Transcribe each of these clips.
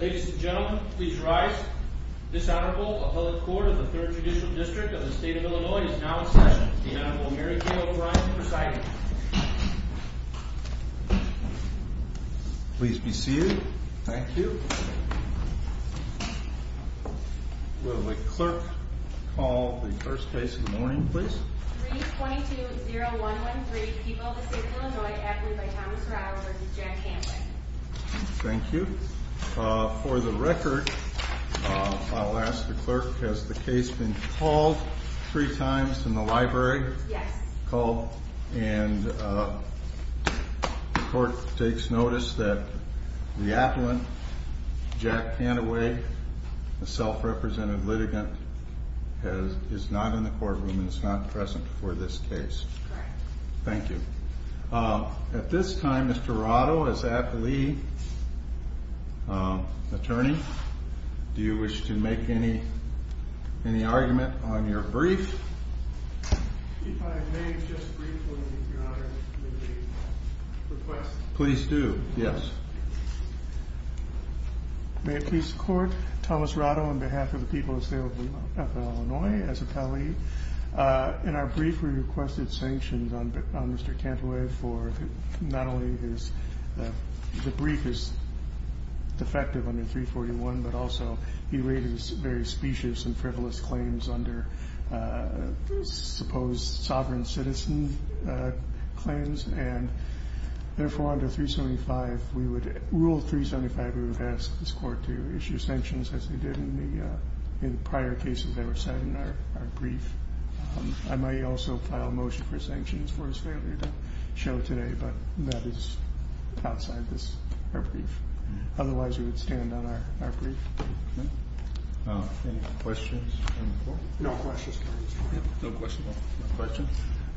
Ladies and gentlemen, please rise. This Honorable Appellate Court of the Third Judicial District of the State of Illinois is now in session. The Honorable Mary Kay O'Brien will be presiding. Please be seated. Thank you. Will the clerk call the first case of the morning, please. 322-0113, People of the State of Illinois, Appellate by Thomas Rau versus Jack Cantway. Thank you. For the record, I'll ask the clerk, has the case been called three times in the library? Yes. And the court takes notice that the appellant, Jack Cantway, a self-represented litigant, is not in the courtroom and is not present for this case. Thank you. At this time, Mr. Arado, as appellee attorney, do you wish to make any argument on your brief? If I may just briefly, Your Honor, make a request. Please do, yes. May it please the court, Thomas Arado, on behalf of the people of the State of Illinois, as appellee. In our brief, we requested sanctions on Mr. Cantway for not only his, the brief is defective under 341, but also he raised various specious and frivolous claims under supposed sovereign citizen claims. Therefore, under rule 375, we would ask this court to issue sanctions as they did in the prior cases that were cited in our brief. I may also file a motion for sanctions for his failure to show today, but that is outside our brief. Otherwise, we would stand on our brief. Any questions? No questions, Your Honor. No questions.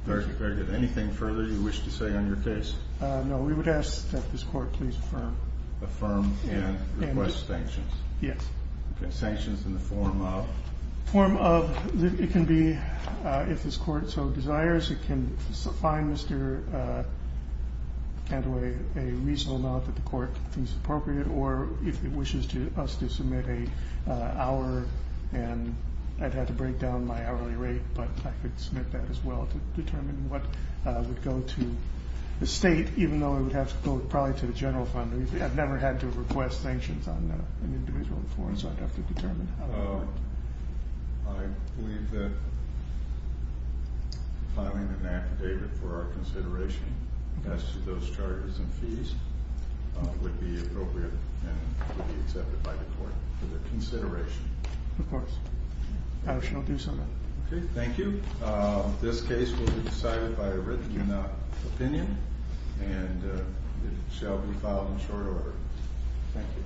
Very good. Anything further you wish to say on your case? No, we would ask that this court please affirm. Affirm and request sanctions. Yes. Sanctions in the form of? It can be if this court so desires. It can find Mr. Cantway a reasonable amount that the court thinks appropriate, or if it wishes us to submit an hour. And I'd have to break down my hourly rate, but I could submit that as well to determine what would go to the state, even though it would have to go probably to the general fund. I've never had to request sanctions on an individual before, so I'd have to determine. I believe that filing an affidavit for our consideration as to those charges and fees would be appropriate and would be accepted by the court for their consideration. Of course. I shall do so. Okay. Thank you. This case will be decided by a written opinion, and it shall be filed in short order. Thank you.